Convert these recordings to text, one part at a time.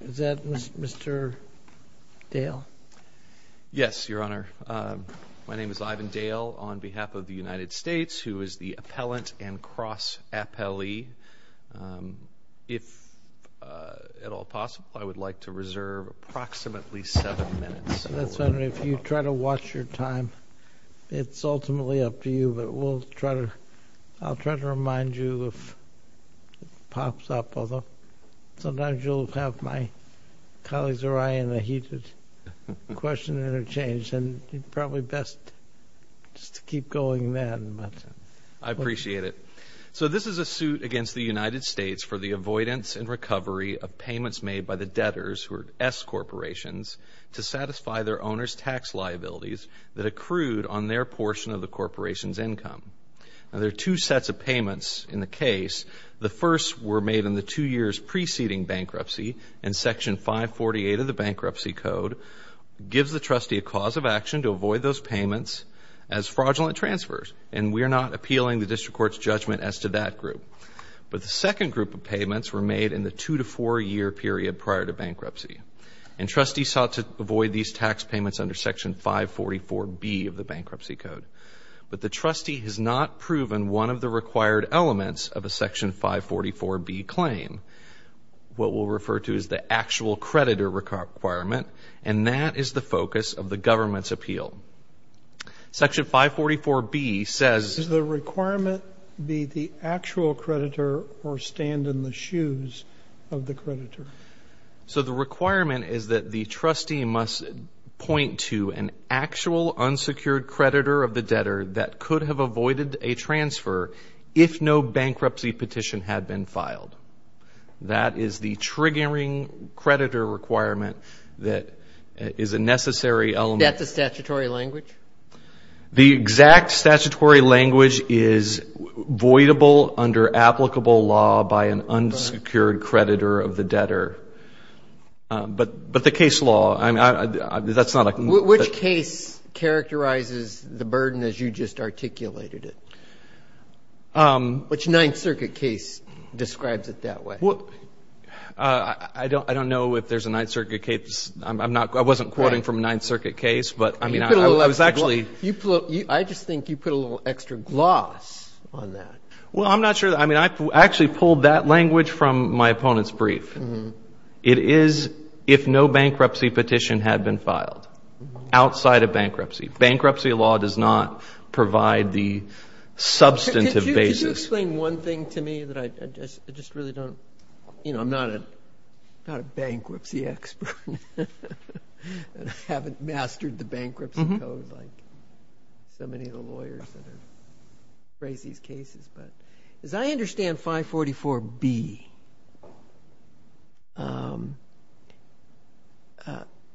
Is that Mr. Dale? Yes, Your Honor. My name is Ivan Dale, on behalf of the United States, who is the appellant and cross-appellee. If at all possible, I would like to reserve approximately seven minutes. If you try to watch your time, it's ultimately up to you, but I'll try to pop up, although sometimes you'll have my colleagues or I in a heated question and a change, and probably best just to keep going then. I appreciate it. So this is a suit against the United States for the avoidance and recovery of payments made by the debtors, who are S-corporations, to satisfy their owners' tax liabilities that accrued on their portion of the corporation's case. The first were made in the two years preceding bankruptcy, and Section 548 of the Bankruptcy Code gives the trustee a cause of action to avoid those payments as fraudulent transfers, and we are not appealing the district court's judgment as to that group. But the second group of payments were made in the two to four year period prior to bankruptcy, and trustees sought to avoid these tax payments under Section 544B of the Bankruptcy Code. But the trustee has not proven one of the required elements of a Section 544B claim. What we'll refer to is the actual creditor requirement, and that is the focus of the government's appeal. Section 544B says... Does the requirement be the actual creditor or stand in the shoes of the creditor? So the requirement is that the trustee must point to an actual unsecured creditor of the debtor that could have avoided a transfer if no bankruptcy petition had been filed. That is the triggering creditor requirement that is a necessary element. That's the statutory language? The exact statutory language is voidable under applicable law by an unsecured creditor of the debtor. But the case law, I mean, that's not a... Which case characterizes the burden as you just articulated it? Which Ninth Circuit case describes it that way? Well, I don't know if there's a Ninth Circuit case. I'm not... I wasn't quoting from a Ninth Circuit case, but I mean, I was actually... I just think you put a little extra gloss on that. Well, I'm not sure. I mean, I actually pulled that language from my opponent's brief. It is if no bankruptcy petition had been filed outside of bankruptcy. Bankruptcy law does not provide the substantive basis. Could you explain one thing to me that I just really don't... I'm not a bankruptcy expert and I haven't mastered the bankruptcy code like so many of the lawyers that have raised these cases. But as I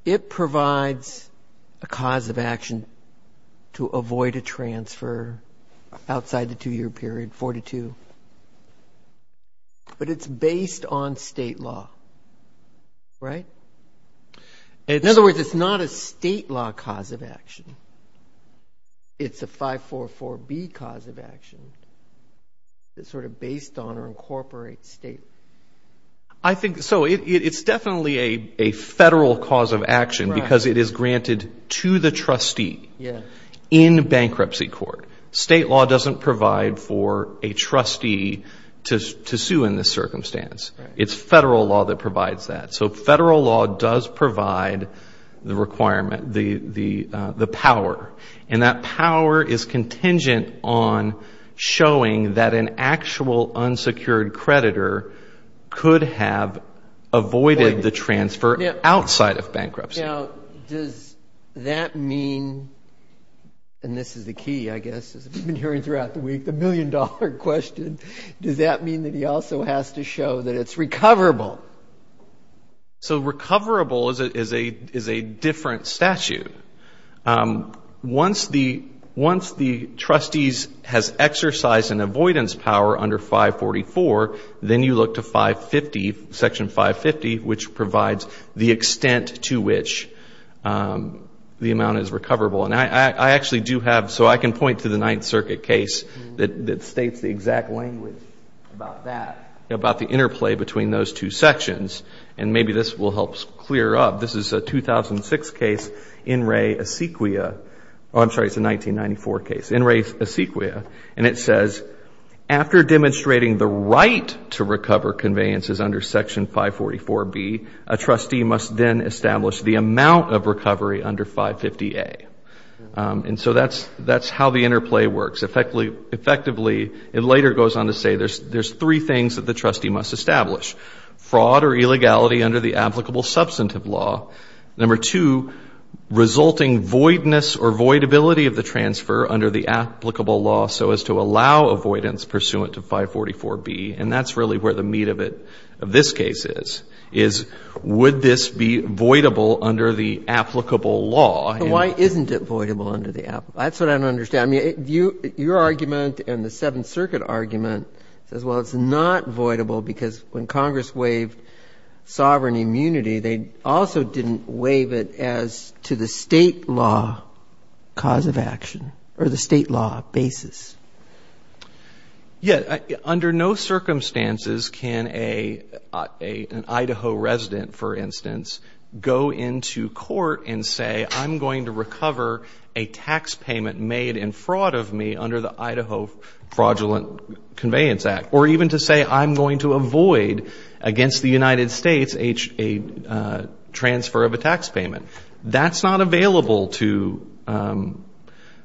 It provides a cause of action to avoid a transfer outside the two-year period, 42. But it's based on state law, right? In other words, it's not a state law cause of action. It's a 544B cause of action that's sort of based on or incorporates state law. I think so. It's definitely a federal cause of action because it is granted to the trustee in bankruptcy court. State law doesn't provide for a trustee to sue in this circumstance. It's federal law that provides that. So federal law does provide the requirement, the power. And that could have avoided the transfer outside of bankruptcy. Now, does that mean, and this is the key, I guess, as we've been hearing throughout the week, the million-dollar question, does that mean that he also has to show that it's recoverable? So recoverable is a different statute. Once the trustees has exercised an avoidance power under 544, then you look to 550, Section 550, which provides the extent to which the amount is recoverable. And I actually do have, so I can point to the Ninth Circuit case that states the exact language about that, about the interplay between those two sections. And maybe this will help clear up. This is a 2006 case, In Re Asequia. Oh, I'm sorry, it's a 1994 case. In Re Asequia. And it says, after demonstrating the right to recover conveyances under Section 544B, a trustee must then establish the amount of recovery under 550A. And so that's how the interplay works. Effectively, it later goes on to say there's three things that the trustee must establish. Fraud or illegality under the applicable substantive law. Number two, resulting voidness or voidability of the transfer under the applicable law so as to allow avoidance pursuant to 544B. And that's really where the meat of it, of this case is, is would this be voidable under the applicable law? Why isn't it voidable under the applicable law? That's what I don't understand. I mean, your argument and the Seventh Circuit argument says, well, it's not sovereign immunity. They also didn't waive it as to the state law cause of action or the state law basis. Yeah. Under no circumstances can an Idaho resident, for instance, go into court and say, I'm going to recover a tax payment made in fraud of me under the Idaho Fraudulent Conveyance Act. Or even to say, I'm going to avoid against the United States a transfer of a tax payment. That's not available to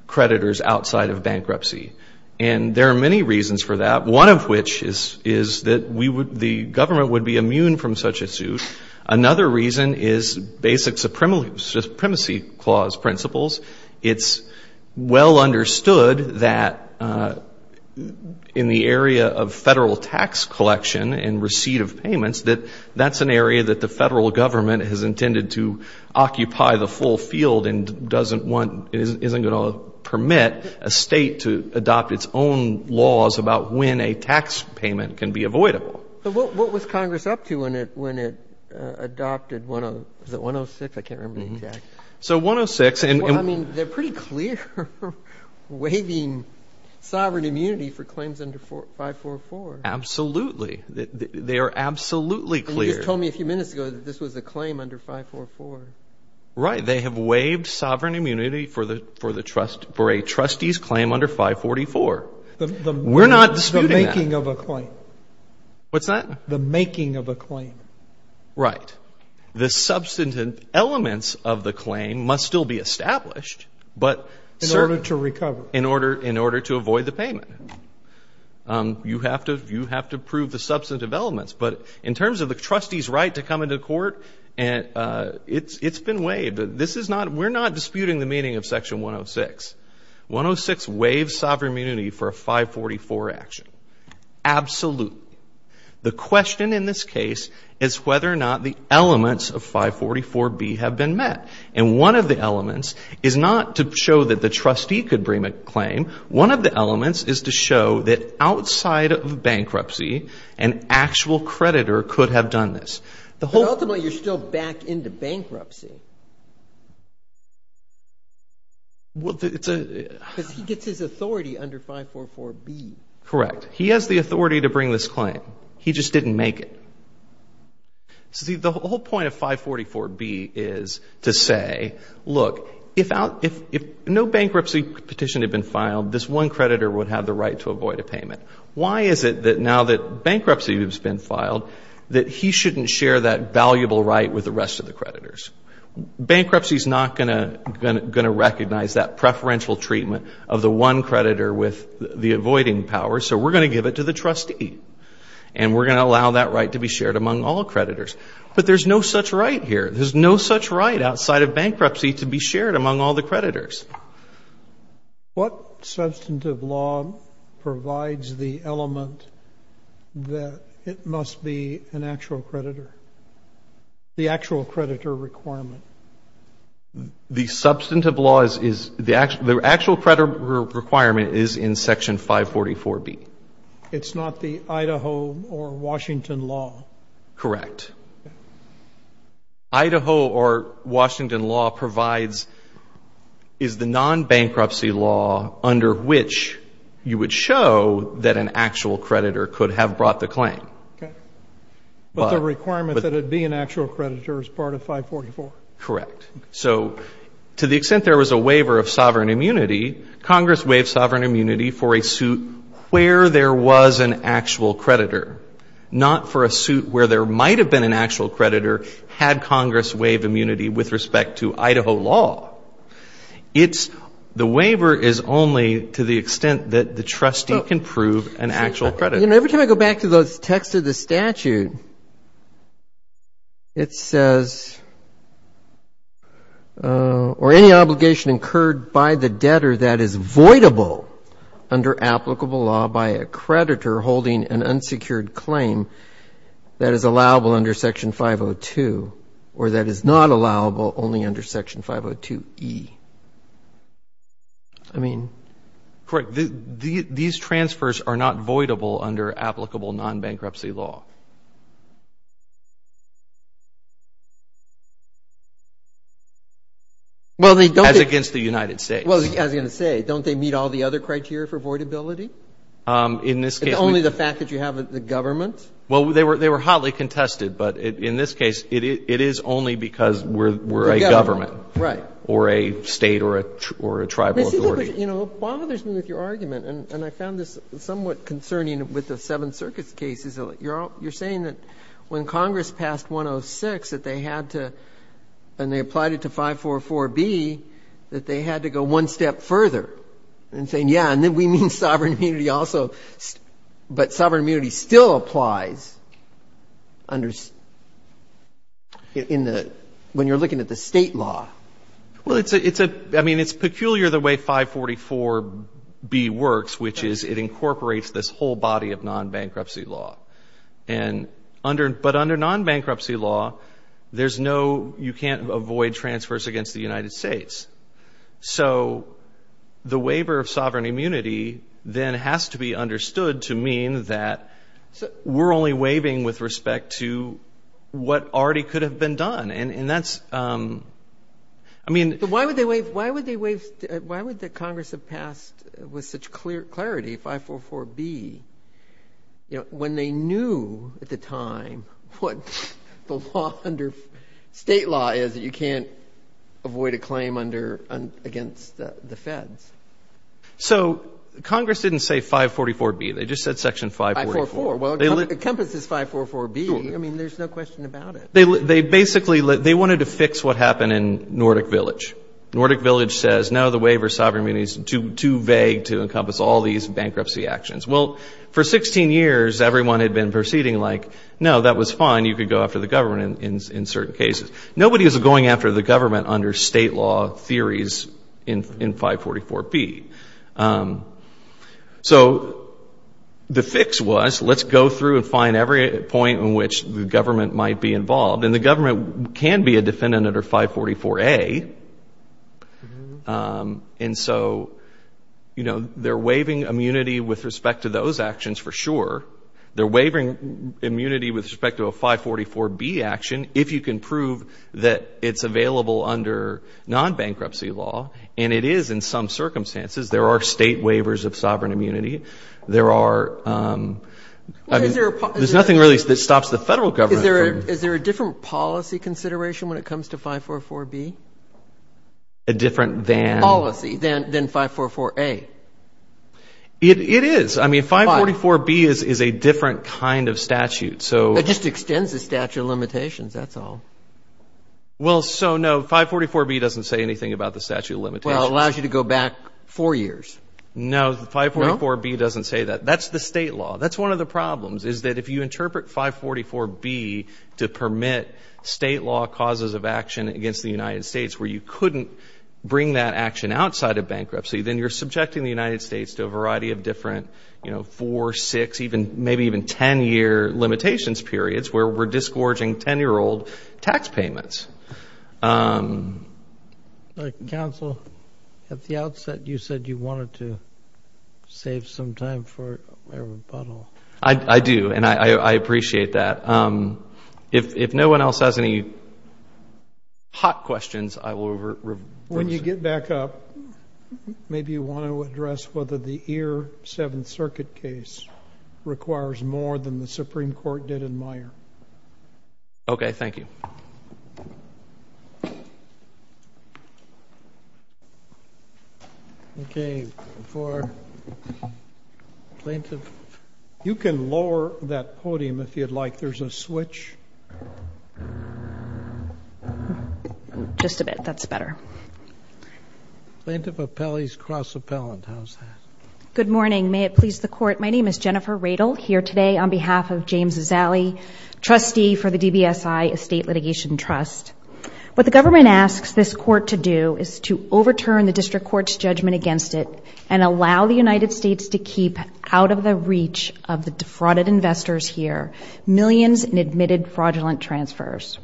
creditors outside of bankruptcy. And there are many reasons for that. One of which is that we would, the government would be immune from such a suit. Another reason is basic supremacy clause principles. It's well understood that in the area of Federal tax collection and receipt of payments, that that's an area that the Federal government has intended to occupy the full field and doesn't want, isn't going to permit a state to adopt its own laws about when a tax payment can be avoidable. But what was Congress up to when it adopted the 106? I can't remember the exact. So 106. I mean, they're pretty clear waiving sovereign immunity for claims under 544. Absolutely. They are absolutely clear. You just told me a few minutes ago that this was a claim under 544. Right. They have waived sovereign immunity for a trustee's claim under 544. We're not disputing that. The making of a claim. What's that? The making of a claim. Right. The substantive elements of the claim must still be established. But in order to recover. In order, in order to avoid the payment. You have to, you have to prove the substantive elements. But in terms of the trustee's right to come into court and it's, it's been waived. This is not, we're not disputing the meaning of section 106. 106 waives sovereign immunity for a 544 action. Absolute. The question in this case is whether or not the elements of 544B have been met. And one of the elements is not to show that the trustee could bring a claim. One of the elements is to show that outside of bankruptcy, an actual creditor could have done this. But ultimately you're still backed into bankruptcy. Well, it's a. Because he gets his authority under 544B. Correct. He has the authority to bring this claim. He just didn't make it. See, the whole point of 544B is to say, look, if out, if, if no bankruptcy petition had been filed, this one creditor would have the right to avoid a payment. Why is it that now that bankruptcy has been filed, that he shouldn't share that valuable right with the rest of the creditors? Bankruptcy is not going to, going to, going to recognize that preferential treatment of the one creditor with the avoiding power. So we're going to give it to the trustee. And we're going to allow that right to be shared among all creditors. But there's no such right here. There's no such right outside of bankruptcy to be shared among all the creditors. What substantive law provides the element that it must be an actual creditor, the actual creditor requirement? The substantive law is, is the actual, requirement is in section 544B. It's not the Idaho or Washington law? Correct. Idaho or Washington law provides, is the non-bankruptcy law under which you would show that an actual creditor could have brought the claim. Okay. But the requirement that it be an waiver of sovereign immunity, Congress waived sovereign immunity for a suit where there was an actual creditor, not for a suit where there might have been an actual creditor, had Congress waived immunity with respect to Idaho law. It's, the waiver is only to the extent that the trustee can prove an actual creditor. You know, every time I go back to those texts of the statute, it says, or any obligation incurred by the debtor that is voidable under applicable law by a creditor holding an unsecured claim that is allowable under section 502, or that is not allowable only under section 502E. I mean. Correct. These transfers are not voidable under applicable non-bankruptcy law. Well, they don't. As against the United States. As I was going to say, don't they meet all the other criteria for voidability? In this case. It's only the fact that you have the government. Well, they were hotly contested, but in this case, it is only because we're a government. Right. Or a State or a Tribal authority. You know, it bothers me with your argument, and I found this somewhat concerning with the Seventh Circuit's cases. You're saying that when Congress passed 106, that they had to, and they applied it to 544B, that they had to go one step further in saying, yeah, and then we mean sovereign immunity also, but sovereign immunity still applies under, in the, when you're looking at the State law. Well, it's a, I mean, it's which is, it incorporates this whole body of non-bankruptcy law. And under, but under non-bankruptcy law, there's no, you can't avoid transfers against the United States. So the waiver of sovereign immunity then has to be understood to mean that we're only waiving with respect to what already could have been done. And that's, I mean. But why would they clarity 544B, you know, when they knew at the time what the law under State law is, that you can't avoid a claim under, against the Feds? So Congress didn't say 544B. They just said Section 544. Well, it encompasses 544B. I mean, there's no question about it. They, they basically, they wanted to fix what happened in Nordic Village. Nordic Village says, no, the waiver of sovereign immunity is too, too vague to encompass all these bankruptcy actions. Well, for 16 years, everyone had been proceeding like, no, that was fine. You could go after the government in, in, in certain cases. Nobody was going after the government under State law theories in, in 544B. So the fix was, let's go through and find every point in which the And so, you know, they're waiving immunity with respect to those actions for sure. They're waiving immunity with respect to a 544B action if you can prove that it's available under non-bankruptcy law. And it is in some circumstances. There are State waivers of sovereign immunity. There are, I mean, there's nothing really that stops the federal government from. Is there a different policy consideration when it comes to 544B? A different than. Policy than, than 544A. It, it is. I mean, 544B is, is a different kind of statute. So. It just extends the statute of limitations, that's all. Well, so no, 544B doesn't say anything about the statute of limitations. Well, it allows you to go back four years. No, 544B doesn't say that. That's the State law. That's one of the problems, is that if you interpret 544B to permit State law causes of action against the United States, where you couldn't bring that action outside of bankruptcy, then you're subjecting the United States to a variety of different, you know, four, six, even, maybe even 10-year limitations periods where we're disgorging 10-year-old tax payments. Counsel, at the outset, you said you wanted to save some time for a rebuttal. I, I do, and I, I appreciate that. If, if no one else has any hot questions, I will. When you get back up, maybe you want to address whether the Ear, Seventh Circuit case requires more than the Supreme Court did in Meyer. Okay, thank you. Okay, for Plaintiff, you can lower that podium if you'd like. There's a switch. Just a bit, that's better. Plaintiff appellees cross-appellant, how's that? Good morning, may it please the Court. My name is Jennifer Radel, here today on behalf of James Trust. What the government asks this Court to do is to overturn the District Court's judgment against it and allow the United States to keep out of the reach of the defrauded investors here millions in admitted fraudulent transfers.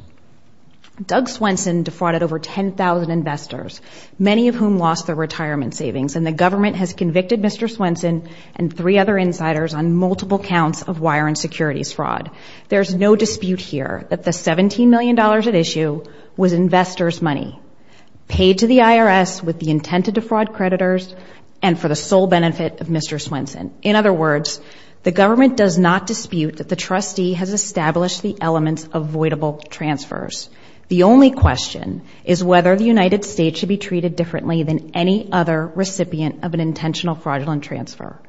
Doug Swenson defrauded over 10,000 investors, many of whom lost their retirement savings, and the government has convicted Mr. Swenson and three other insiders on multiple counts of wire and securities fraud. There's no dispute here that the $17 million at issue was investors' money paid to the IRS with the intent to defraud creditors and for the sole benefit of Mr. Swenson. In other words, the government does not dispute that the trustee has established the elements of voidable transfers. The only question is whether the United States should be treated differently than any other recipient of an intentional fraudulent transfer.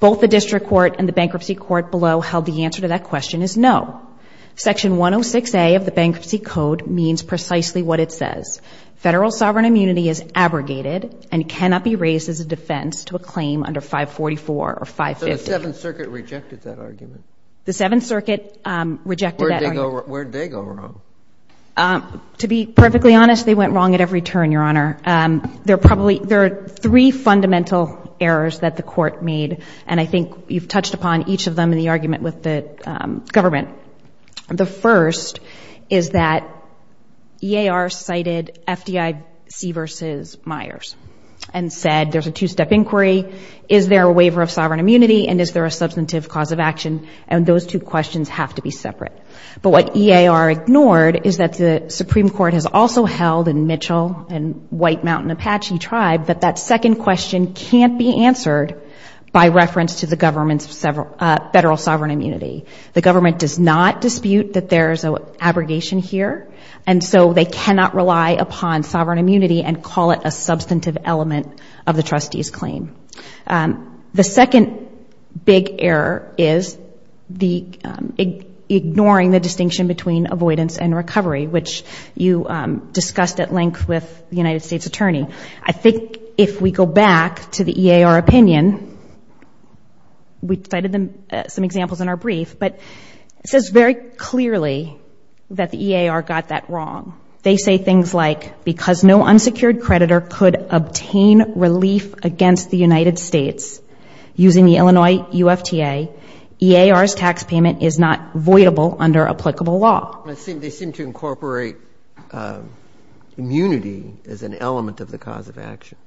Both the District Court and the Bankruptcy Court below held the answer to that question is no. Section 106A of the Bankruptcy Code means precisely what it says. Federal sovereign immunity is abrogated and cannot be raised as a defense to a claim under 544 or 550. So the Seventh Circuit rejected that argument? The Seventh Circuit rejected that argument. Where did they go wrong? To be perfectly honest, they went wrong at every turn, Your Honor. There are three fundamental errors that the Court made, and I think you've touched upon each of them in the argument with the government. The first is that EAR cited FDIC versus Myers and said there's a two-step inquiry. Is there a waiver of sovereign immunity and is there a substantive cause of action? And those two questions have to be separate. But what EAR ignored is that the Supreme Court has also held in Mitchell and White Mountain Apache Tribe that that second question can't be answered by reference to the government's federal sovereign immunity. The government does not dispute that there's an abrogation here, and so they cannot rely upon sovereign immunity and call it a substantive element of the trustee's claim. The second big error is ignoring the distinction between avoidance and recovery, which you discussed at length with the United States Attorney. I think if we go back to the EAR opinion, we cited some examples in our brief, but it says very clearly that the EAR got that wrong. They say things like, because no unsecured creditor could obtain relief against the United States using the Illinois UFTA, EAR's tax payment is not voidable under applicable law. They seem to incorporate immunity as an element of the cause of action.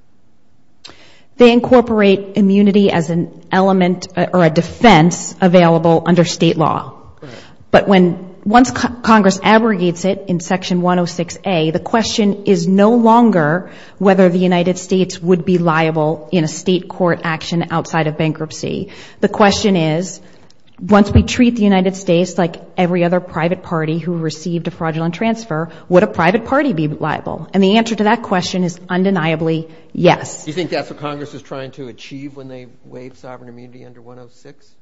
They incorporate immunity as an element or a defense available under state law. But once Congress abrogates it in Section 106A, the question is no longer whether the United States would be liable in a state court action outside of bankruptcy. The question is, once we treat the United States like every other private party who received a fraudulent transfer, would a private party be liable? And the answer to that question is undeniably yes. Do you think that's what Congress is trying to achieve when they waive sovereign immunity under 106?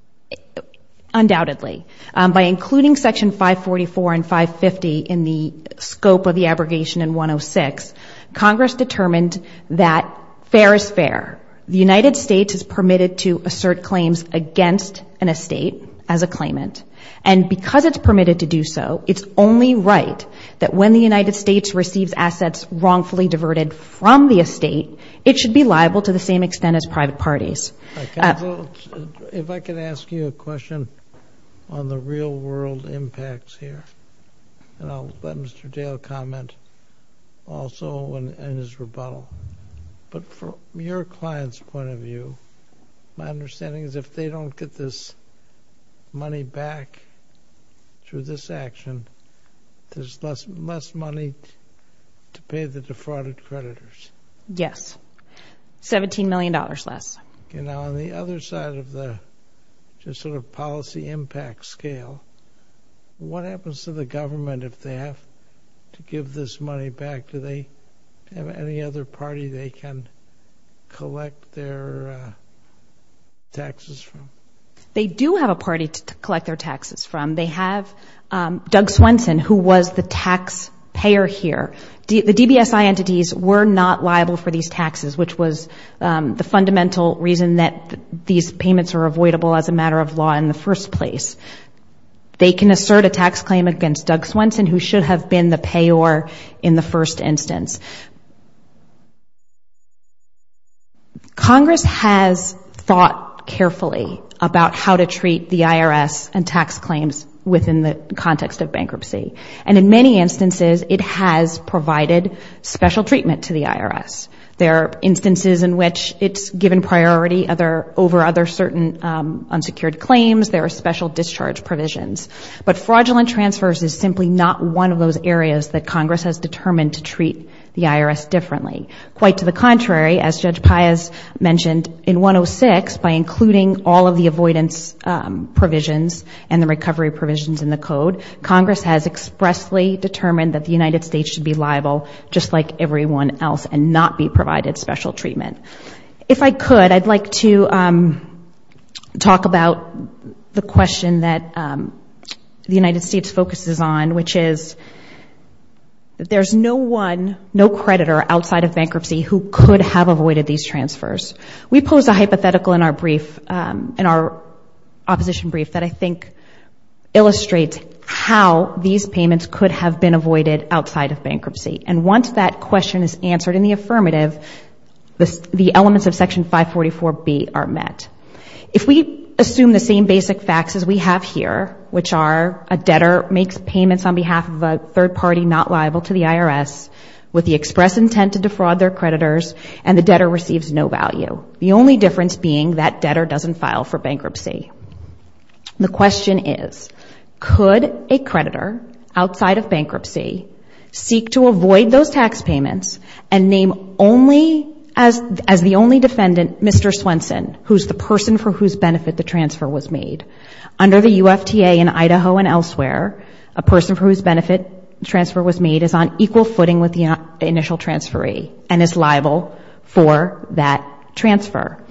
Undoubtedly. By including Section 544 and 550 in the scope of the abrogation in 106, Congress determined that fair is fair. The United States is permitted to assert claims against an estate as a claimant. And because it's permitted to do so, it's only right that when the United States receives assets wrongfully diverted from the estate, it should be liable to the same extent as private parties. Counsel, if I could ask you a question on the real-world impacts here. And I'll let Mr. Dale comment also on his rebuttal. But from your client's point of view, my understanding is if they don't get this money back through this action, there's less money to pay the defrauded creditors. Yes, $17 million less. Now, on the other side of the policy impact scale, what happens to the government if they have to give this money back? Do they have any other party they can collect their taxes from? They do have a party to collect their taxes from. They have Doug Swenson, who was the taxpayer here. The DBSI entities were not liable for these taxes, which was the fundamental reason that these payments are avoidable as a matter of law in the first place. They can assert a tax claim against Doug Swenson, who should have been the payor in the first instance. Congress has thought carefully about how to treat the IRS and tax claims within the context of bankruptcy. And in many instances, it has provided special treatment to the IRS. There are instances in which it's given priority over other certain unsecured claims. There are special discharge provisions. But fraudulent transfers is simply not one of those areas that Congress has determined to treat the IRS differently. Quite to the contrary, as Judge Paius mentioned, in 106, by including all of the avoidance provisions and the recovery provisions in the code, Congress has expressly determined that the United States should be liable, just like everyone else, and not be provided special treatment. If I could, I'd like to talk about the question that the United States focuses on, which is that there's no one, no creditor outside of bankruptcy who could have avoided these transfers. We pose a hypothetical in our brief, in our opposition brief, that I think illustrates how these payments could have been avoided outside of bankruptcy. And once that question is answered in the affirmative, the elements of Section 544B are met. If we assume the same basic facts as we have here, which are a debtor makes payments on behalf of a third party not liable to the IRS with the express intent to defraud their creditors, and the debtor receives no value, the only difference being that debtor doesn't file for bankruptcy. The question is, could a creditor outside of bankruptcy seek to avoid those tax payments and name only, as the only defendant, Mr. Swenson, who's the person for whose benefit the transfer was made? Under the UFTA in Idaho and elsewhere, a person for whose benefit transfer was made is on equal footing with the initial transferee and is liable for that transfer.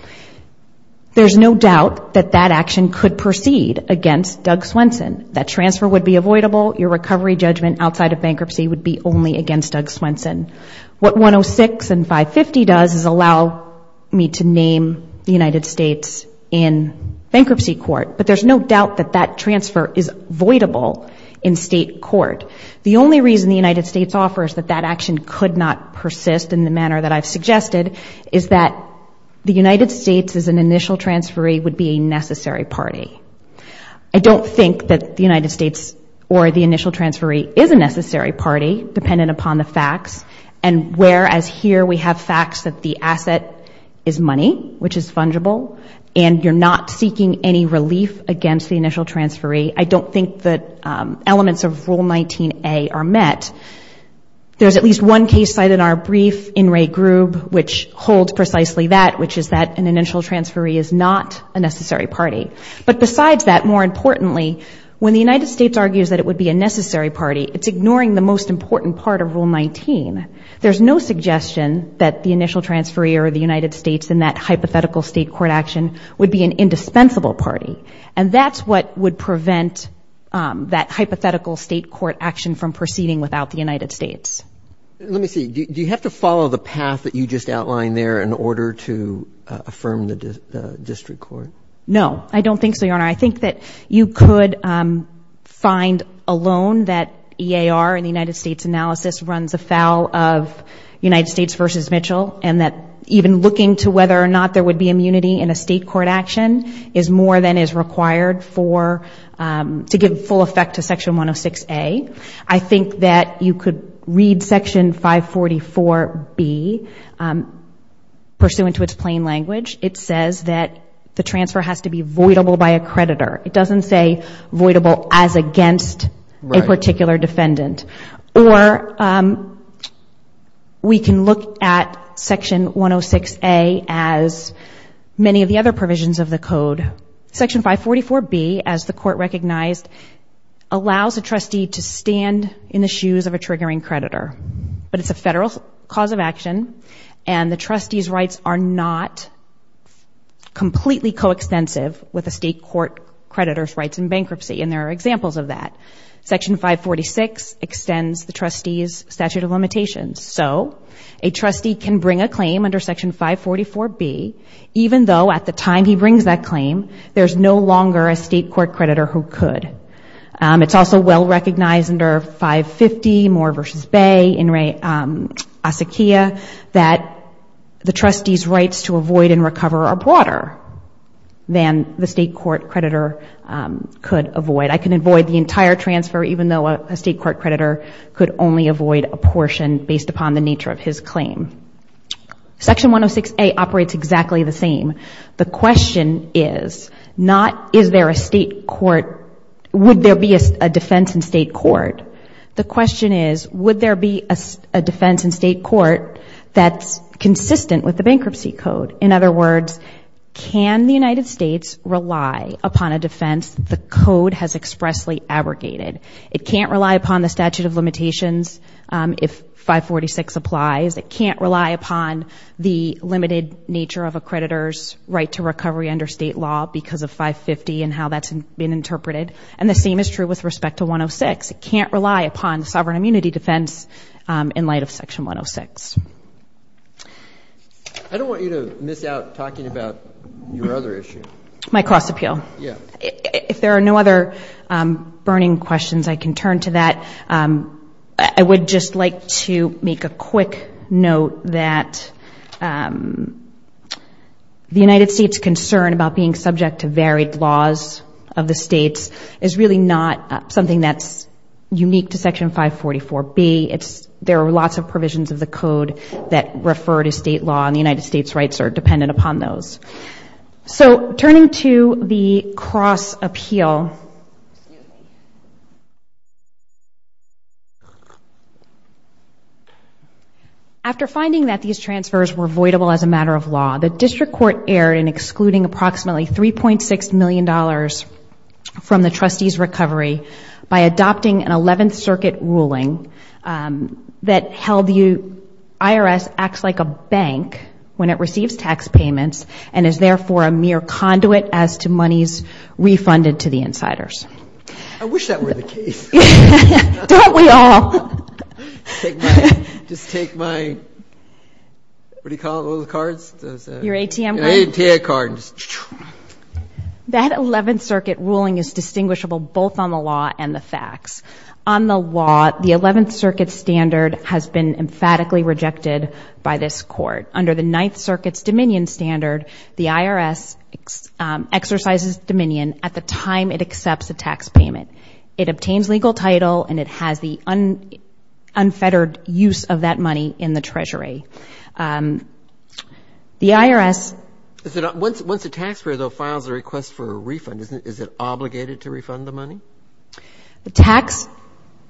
There's no doubt that that action could proceed against Doug Swenson. That transfer would be avoidable. Your recovery judgment outside of bankruptcy would be only against Doug Swenson. What 106 and 550 does is allow me to name the United States in bankruptcy court, but there's no doubt that that transfer is avoidable in state court. The only reason the United States offers that that action could not persist in the manner that I've suggested is that the United States as an initial transferee would be a necessary party. I don't think that the United States or the initial transferee is a necessary party, dependent upon the facts. And whereas here we have facts that the asset is money, which is fungible, and you're not seeking any relief against the initial transferee, I don't think that elements of Rule 19A are met. There's at least one case cited in our brief in Ray Groob, which holds precisely that, which is that an initial transferee is not a necessary party. But besides that, more importantly, when the United States argues that it would be a necessary party, it's ignoring the most important part of Rule 19. There's no suggestion that the initial transferee or the United States in that hypothetical state court action would be an indispensable party. And that's what would prevent that hypothetical state court action from proceeding without the United States. Let me see, do you have to follow the path that you just outlined there in order to affirm the district court? No, I don't think so, Your Honor. I think that you could find alone that EAR in the United States analysis runs afoul of United States versus Mitchell, and that even looking to whether or not there would be immunity in a state court action is more than is required for, to give full effect to Section 106A. I think that you could read Section 544B, pursuant to its plain language. It says that the transfer has to be voidable by a creditor. It doesn't say voidable as against a particular defendant. Or we can look at Section 106A as many of the other provisions of the code. Section 544B, as the court recognized, allows a trustee to stand in the shoes of a triggering creditor. But it's a federal cause of action, and the trustee's rights are not completely coextensive with a state court creditor's rights in bankruptcy. And there are examples of that. Section 546 extends the trustee's statute of limitations. So a trustee can bring a claim under Section 544B, even though at the time he brings that claim, there's no longer a state court creditor who could. It's also well-recognized under 550 Moore versus Bay, In re Asakia, that the trustee's rights to avoid and recover are broader than the state court creditor could avoid. I can avoid the entire transfer, even though a state court creditor could only avoid a portion based upon the nature of his claim. Section 106A operates exactly the same. The question is not, is there a state court, would there be a defense in state court? The question is, would there be a defense in state court that's consistent with the bankruptcy code? In other words, can the United States rely upon a defense the code has expressly abrogated? It can't rely upon the statute of limitations if 546 applies. It can't rely upon the limited nature of a creditor's right to recovery under state law because of 550 and how that's been interpreted. And the same is true with respect to 106. It can't rely upon the sovereign immunity defense in light of section 106. I don't want you to miss out talking about your other issue. My cross appeal. Yeah. If there are no other burning questions, I can turn to that. I would just like to make a quick note that the United States concern about being subject to varied laws of the states is really not something that's unique to section 544B. It's, there are lots of provisions of the code that refer to state law and the United States rights are dependent upon those. So turning to the cross appeal. After finding that these transfers were voidable as a matter of law, the district court erred in excluding approximately $3.6 million from the trustee's recovery by adopting an 11th circuit ruling that held the IRS acts like a bank when it receives tax payments and is therefore a mere conduit as to monies refunded to the insiders. I wish that were the case. Don't we all? Take my, just take my, what do you call it? What are the cards? Your ATM card? Your ATM card. That 11th circuit ruling is distinguishable both on the law and the facts. On the law, the 11th circuit standard has been emphatically rejected by this court. Under the 9th circuit's dominion standard, the IRS exercises dominion at the time it accepts a tax payment. It obtains legal title and it has the unfettered use of that money in the treasury. The IRS... Once a taxpayer though files a request for a refund, is it obligated to refund the money?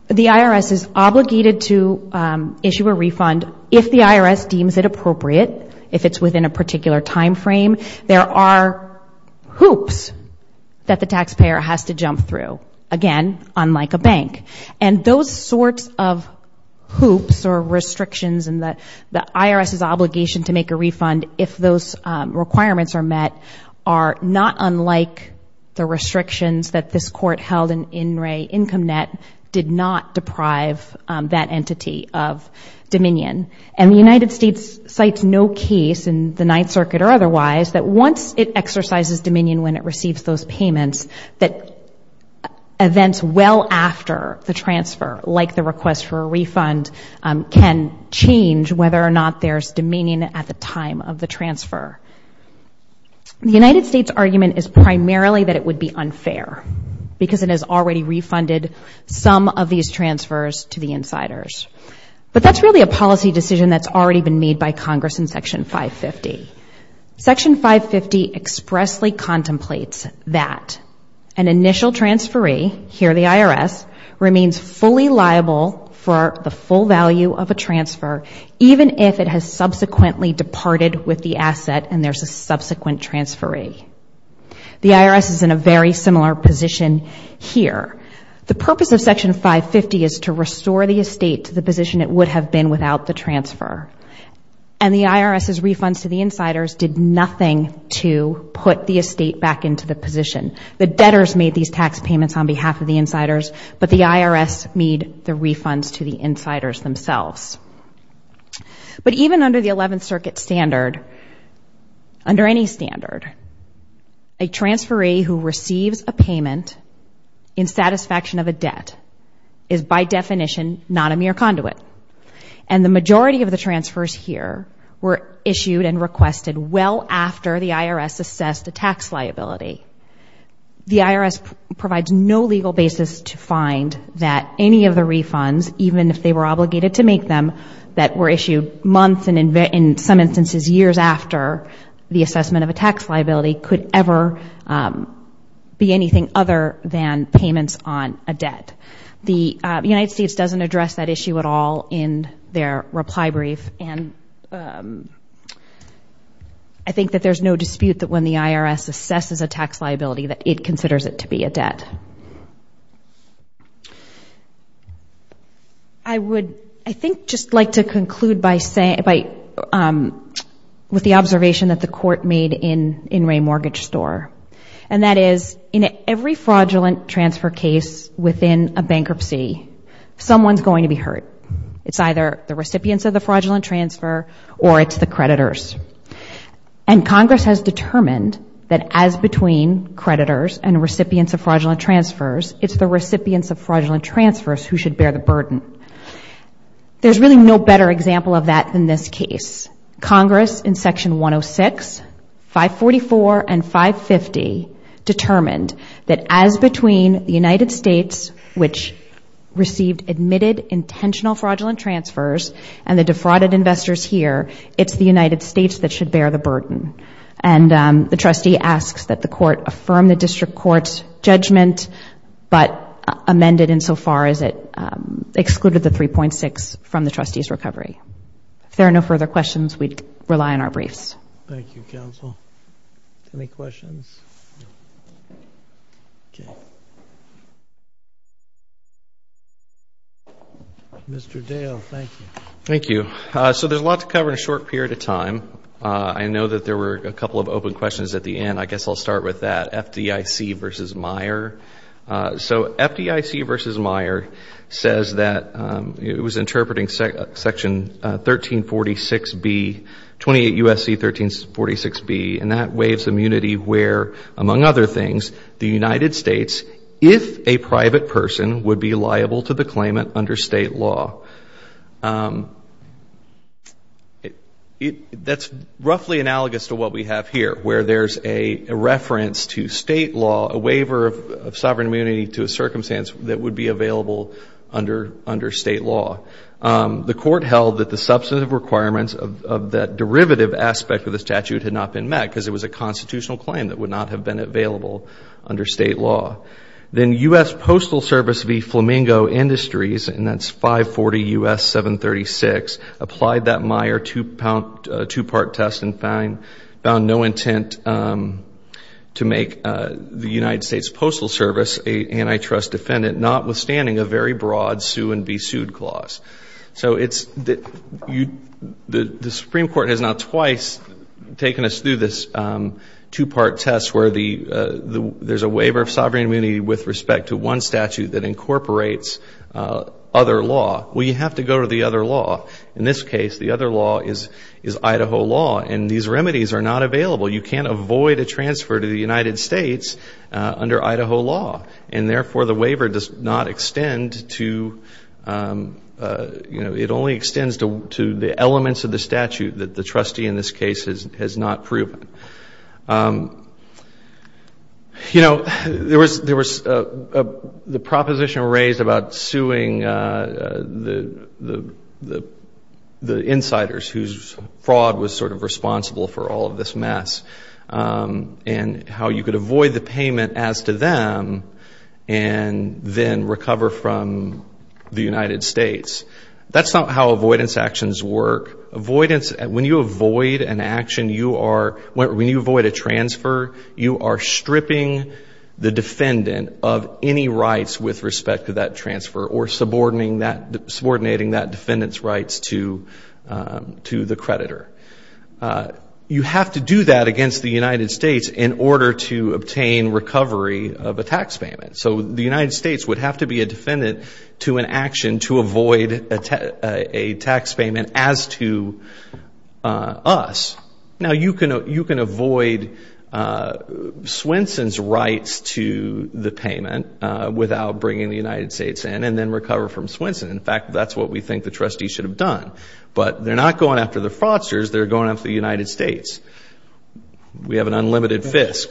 The IRS is obligated to issue a refund if the IRS deems it appropriate, if it's within a particular time frame. There are hoops that the taxpayer has to jump through. Again, unlike a bank. And those sorts of hoops or restrictions in the IRS's obligation to make a refund, if those requirements are met, are not unlike the restrictions that this court held in In Re Income Net did not deprive that entity of dominion. And the United States cites no case in the 9th circuit or otherwise that once it exercises dominion when it receives those payments, that events well after the transfer, like the request for a refund, can change whether or not there's dominion at the time of the transfer. The United States argument is primarily that it would be unfair because it has already refunded some of these transfers to the insiders. But that's really a policy decision that's already been made by Congress in Section 550. Section 550 expressly contemplates that an initial transferee, here the IRS, remains fully liable for the full value of a transfer, even if it has subsequently departed with the asset and there's a subsequent transferee. The IRS is in a very similar position here. The purpose of Section 550 is to restore the estate to the position it would have been without the transfer. And the IRS's refunds to the insiders did nothing to put the estate back into the position. The debtors made these tax payments on behalf of the insiders, but the IRS made the refunds to the insiders themselves. But even under the 11th circuit standard, under any standard, a transferee who receives a payment in satisfaction of a debt is by definition not a mere conduit. And the majority of the transfers here were issued and requested well after the IRS assessed a tax liability. The IRS provides no legal basis to find that any of the refunds, even if they were obligated to make them, that were issued months and in some instances years after the assessment of a tax liability could ever be anything other than payments on a debt. The United States doesn't address that issue at all in their reply brief. And I think that there's no dispute that when the IRS assesses a tax liability, that it considers it to be a debt. I would, I think, just like to conclude by saying, with the observation that the court made in Ray Mortgage Store. And that is, in every fraudulent transfer case within a bankruptcy, someone's going to be hurt. It's either the recipients of the fraudulent transfer or it's the creditors. And Congress has determined that as between creditors and recipients of fraudulent transfers, it's the recipients of fraudulent transfers who should bear the burden. There's really no better example of that than this case. Congress, in Section 106, 544 and 550, determined that as between the United States, which received admitted intentional fraudulent transfers, and the defrauded investors here, it's the United States that should bear the burden. And the trustee asks that the court affirm the district court's judgment, but amend it insofar as it excluded the 3.6 from the trustee's recovery. If there are no further questions, we rely on our briefs. Thank you, counsel. Any questions? Mr. Dale, thank you. Thank you. So there's a lot to cover in a short period of time. I know that there were a couple of open questions at the end. I guess I'll start with that. FDIC versus Meyer. So FDIC versus Meyer says that it was interpreting Section 1346B, 28 U.S.C. 1346B, and that waives immunity where, among other things, the United States, if a private person, would be liable to the claimant under state law. That's roughly analogous to what we have here, where there's a reference to state law, a waiver of sovereign immunity to a circumstance that would be available under state law. The court held that the substantive requirements of that derivative aspect of the statute had not been met because it was a constitutional claim that would not have been available under state law. Then U.S. Postal Service v. Flamingo Industries, and that's 540 U.S. 736, applied that Meyer two-part test and found no intent to make the United States Postal Service an antitrust defendant, notwithstanding a very broad sue-and-be-sued clause. The Supreme Court has now twice taken us through this two-part test where there's a waiver of sovereign immunity with respect to one statute that incorporates other law. Well, you have to go to the other law. In this case, the other law is Idaho law, and these remedies are not available. You can't avoid a transfer to the United States under Idaho law, and therefore the waiver does not extend to, you know, it only extends to the elements of the statute that the trustee in this case has not proven. You know, there was the proposition raised about suing the insiders whose fraud was sort of responsible for all of this mess and how you could avoid the payment as to them and then recover from the United States. That's not how avoidance actions work. When you avoid an action, when you avoid a transfer, you are stripping the defendant of any rights with respect to that transfer or subordinating that defendant's rights to the creditor. You have to do that against the United States in order to obtain recovery of a tax payment. So the United States would have to be a defendant to an action to avoid a tax payment as to us. Now, you can avoid Swenson's rights to the payment without bringing the United States in and then recover from Swenson. In fact, that's what we think the trustee should have done. But they're not going after the fraudsters. They're going after the United States. We have an unlimited fisk.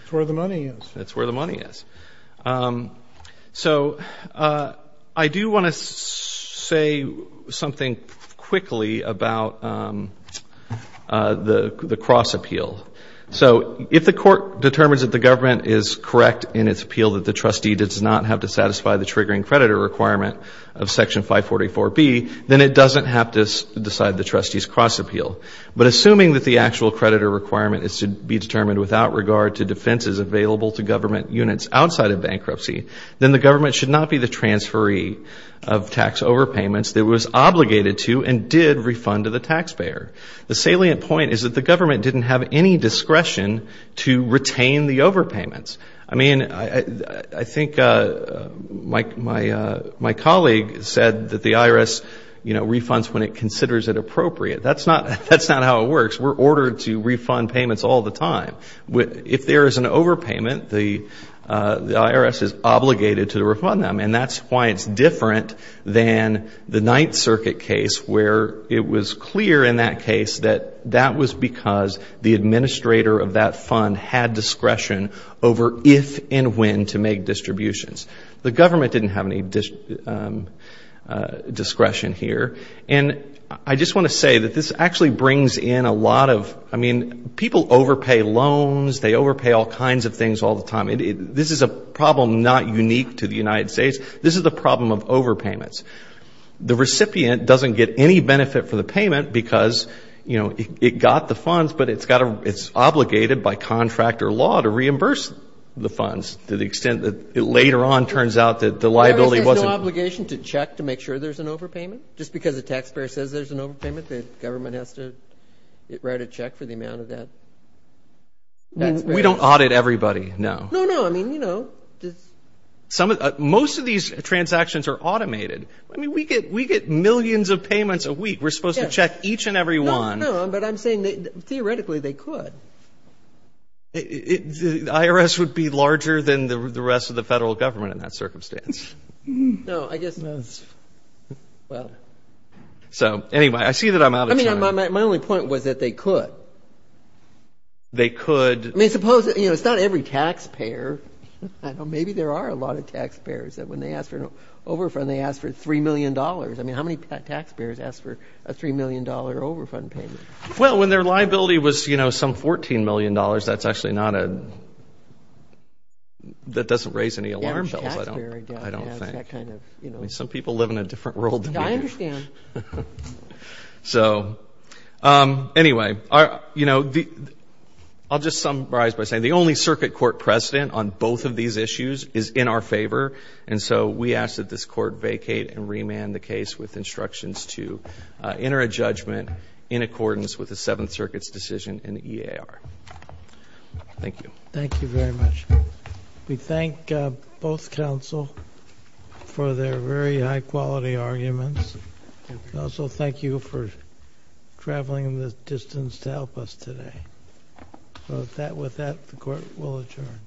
That's where the money is. That's where the money is. So I do want to say something quickly about the cross appeal. So if the court determines that the government is correct in its appeal that the trustee does not have to satisfy the triggering creditor requirement of Section 544B, then it doesn't have to decide the trustee's cross appeal. But assuming that the actual creditor requirement is to be determined without regard to defenses available to government units outside of bankruptcy, then the government should not be the transferee of tax overpayments that it was obligated to and did refund to the taxpayer. The salient point is that the government didn't have any discretion to retain the overpayments. I mean, I think my colleague said that the IRS, you know, refunds when it considers it appropriate. That's not how it works. We're ordered to refund payments all the time. If there is an overpayment, the IRS is obligated to refund them. And that's why it's different than the Ninth Circuit case where it was clear in that case that that was because the administrator of that fund had discretion over if and when to make distributions. The government didn't have any discretion here. And I just want to say that this actually brings in a lot of, I mean, people overpay loans. They overpay all kinds of things all the time. This is a problem not unique to the United States. This is the problem of overpayments. The recipient doesn't get any benefit for the payment because, you know, it got the funds, but it's obligated by contractor law to reimburse the funds to the extent that it later on turns out that the liability wasn't. Is there an obligation to check to make sure there's an overpayment? Just because a taxpayer says there's an overpayment, the government has to write a check for the amount of that? We don't audit everybody, no. No, no, I mean, you know. Most of these transactions are automated. I mean, we get millions of payments a week. We're supposed to check each and every one. No, no, but I'm saying that theoretically they could. The IRS would be larger than the rest of the federal government in that circumstance. No, I guess, well. So, anyway, I see that I'm out of time. I mean, my only point was that they could. They could. I mean, suppose, you know, it's not every taxpayer. I don't know, maybe there are a lot of taxpayers that when they ask for an overfund, they ask for $3 million. I mean, how many taxpayers ask for a $3 million overfund payment? Well, when their liability was, you know, some $14 million, that's actually not a, that doesn't raise any alarm bells. I don't think. That kind of, you know. Some people live in a different world than we do. I understand. So, anyway, you know, I'll just summarize by saying the only circuit court precedent on both of these issues is in our favor, and so we ask that this court vacate and remand the case with instructions to enter a judgment in accordance with the Seventh Circuit's decision in the EAR. Thank you. Thank you very much. We thank both counsel for their very high quality arguments. Also, thank you for traveling the distance to help us today. So, with that, the court will adjourn.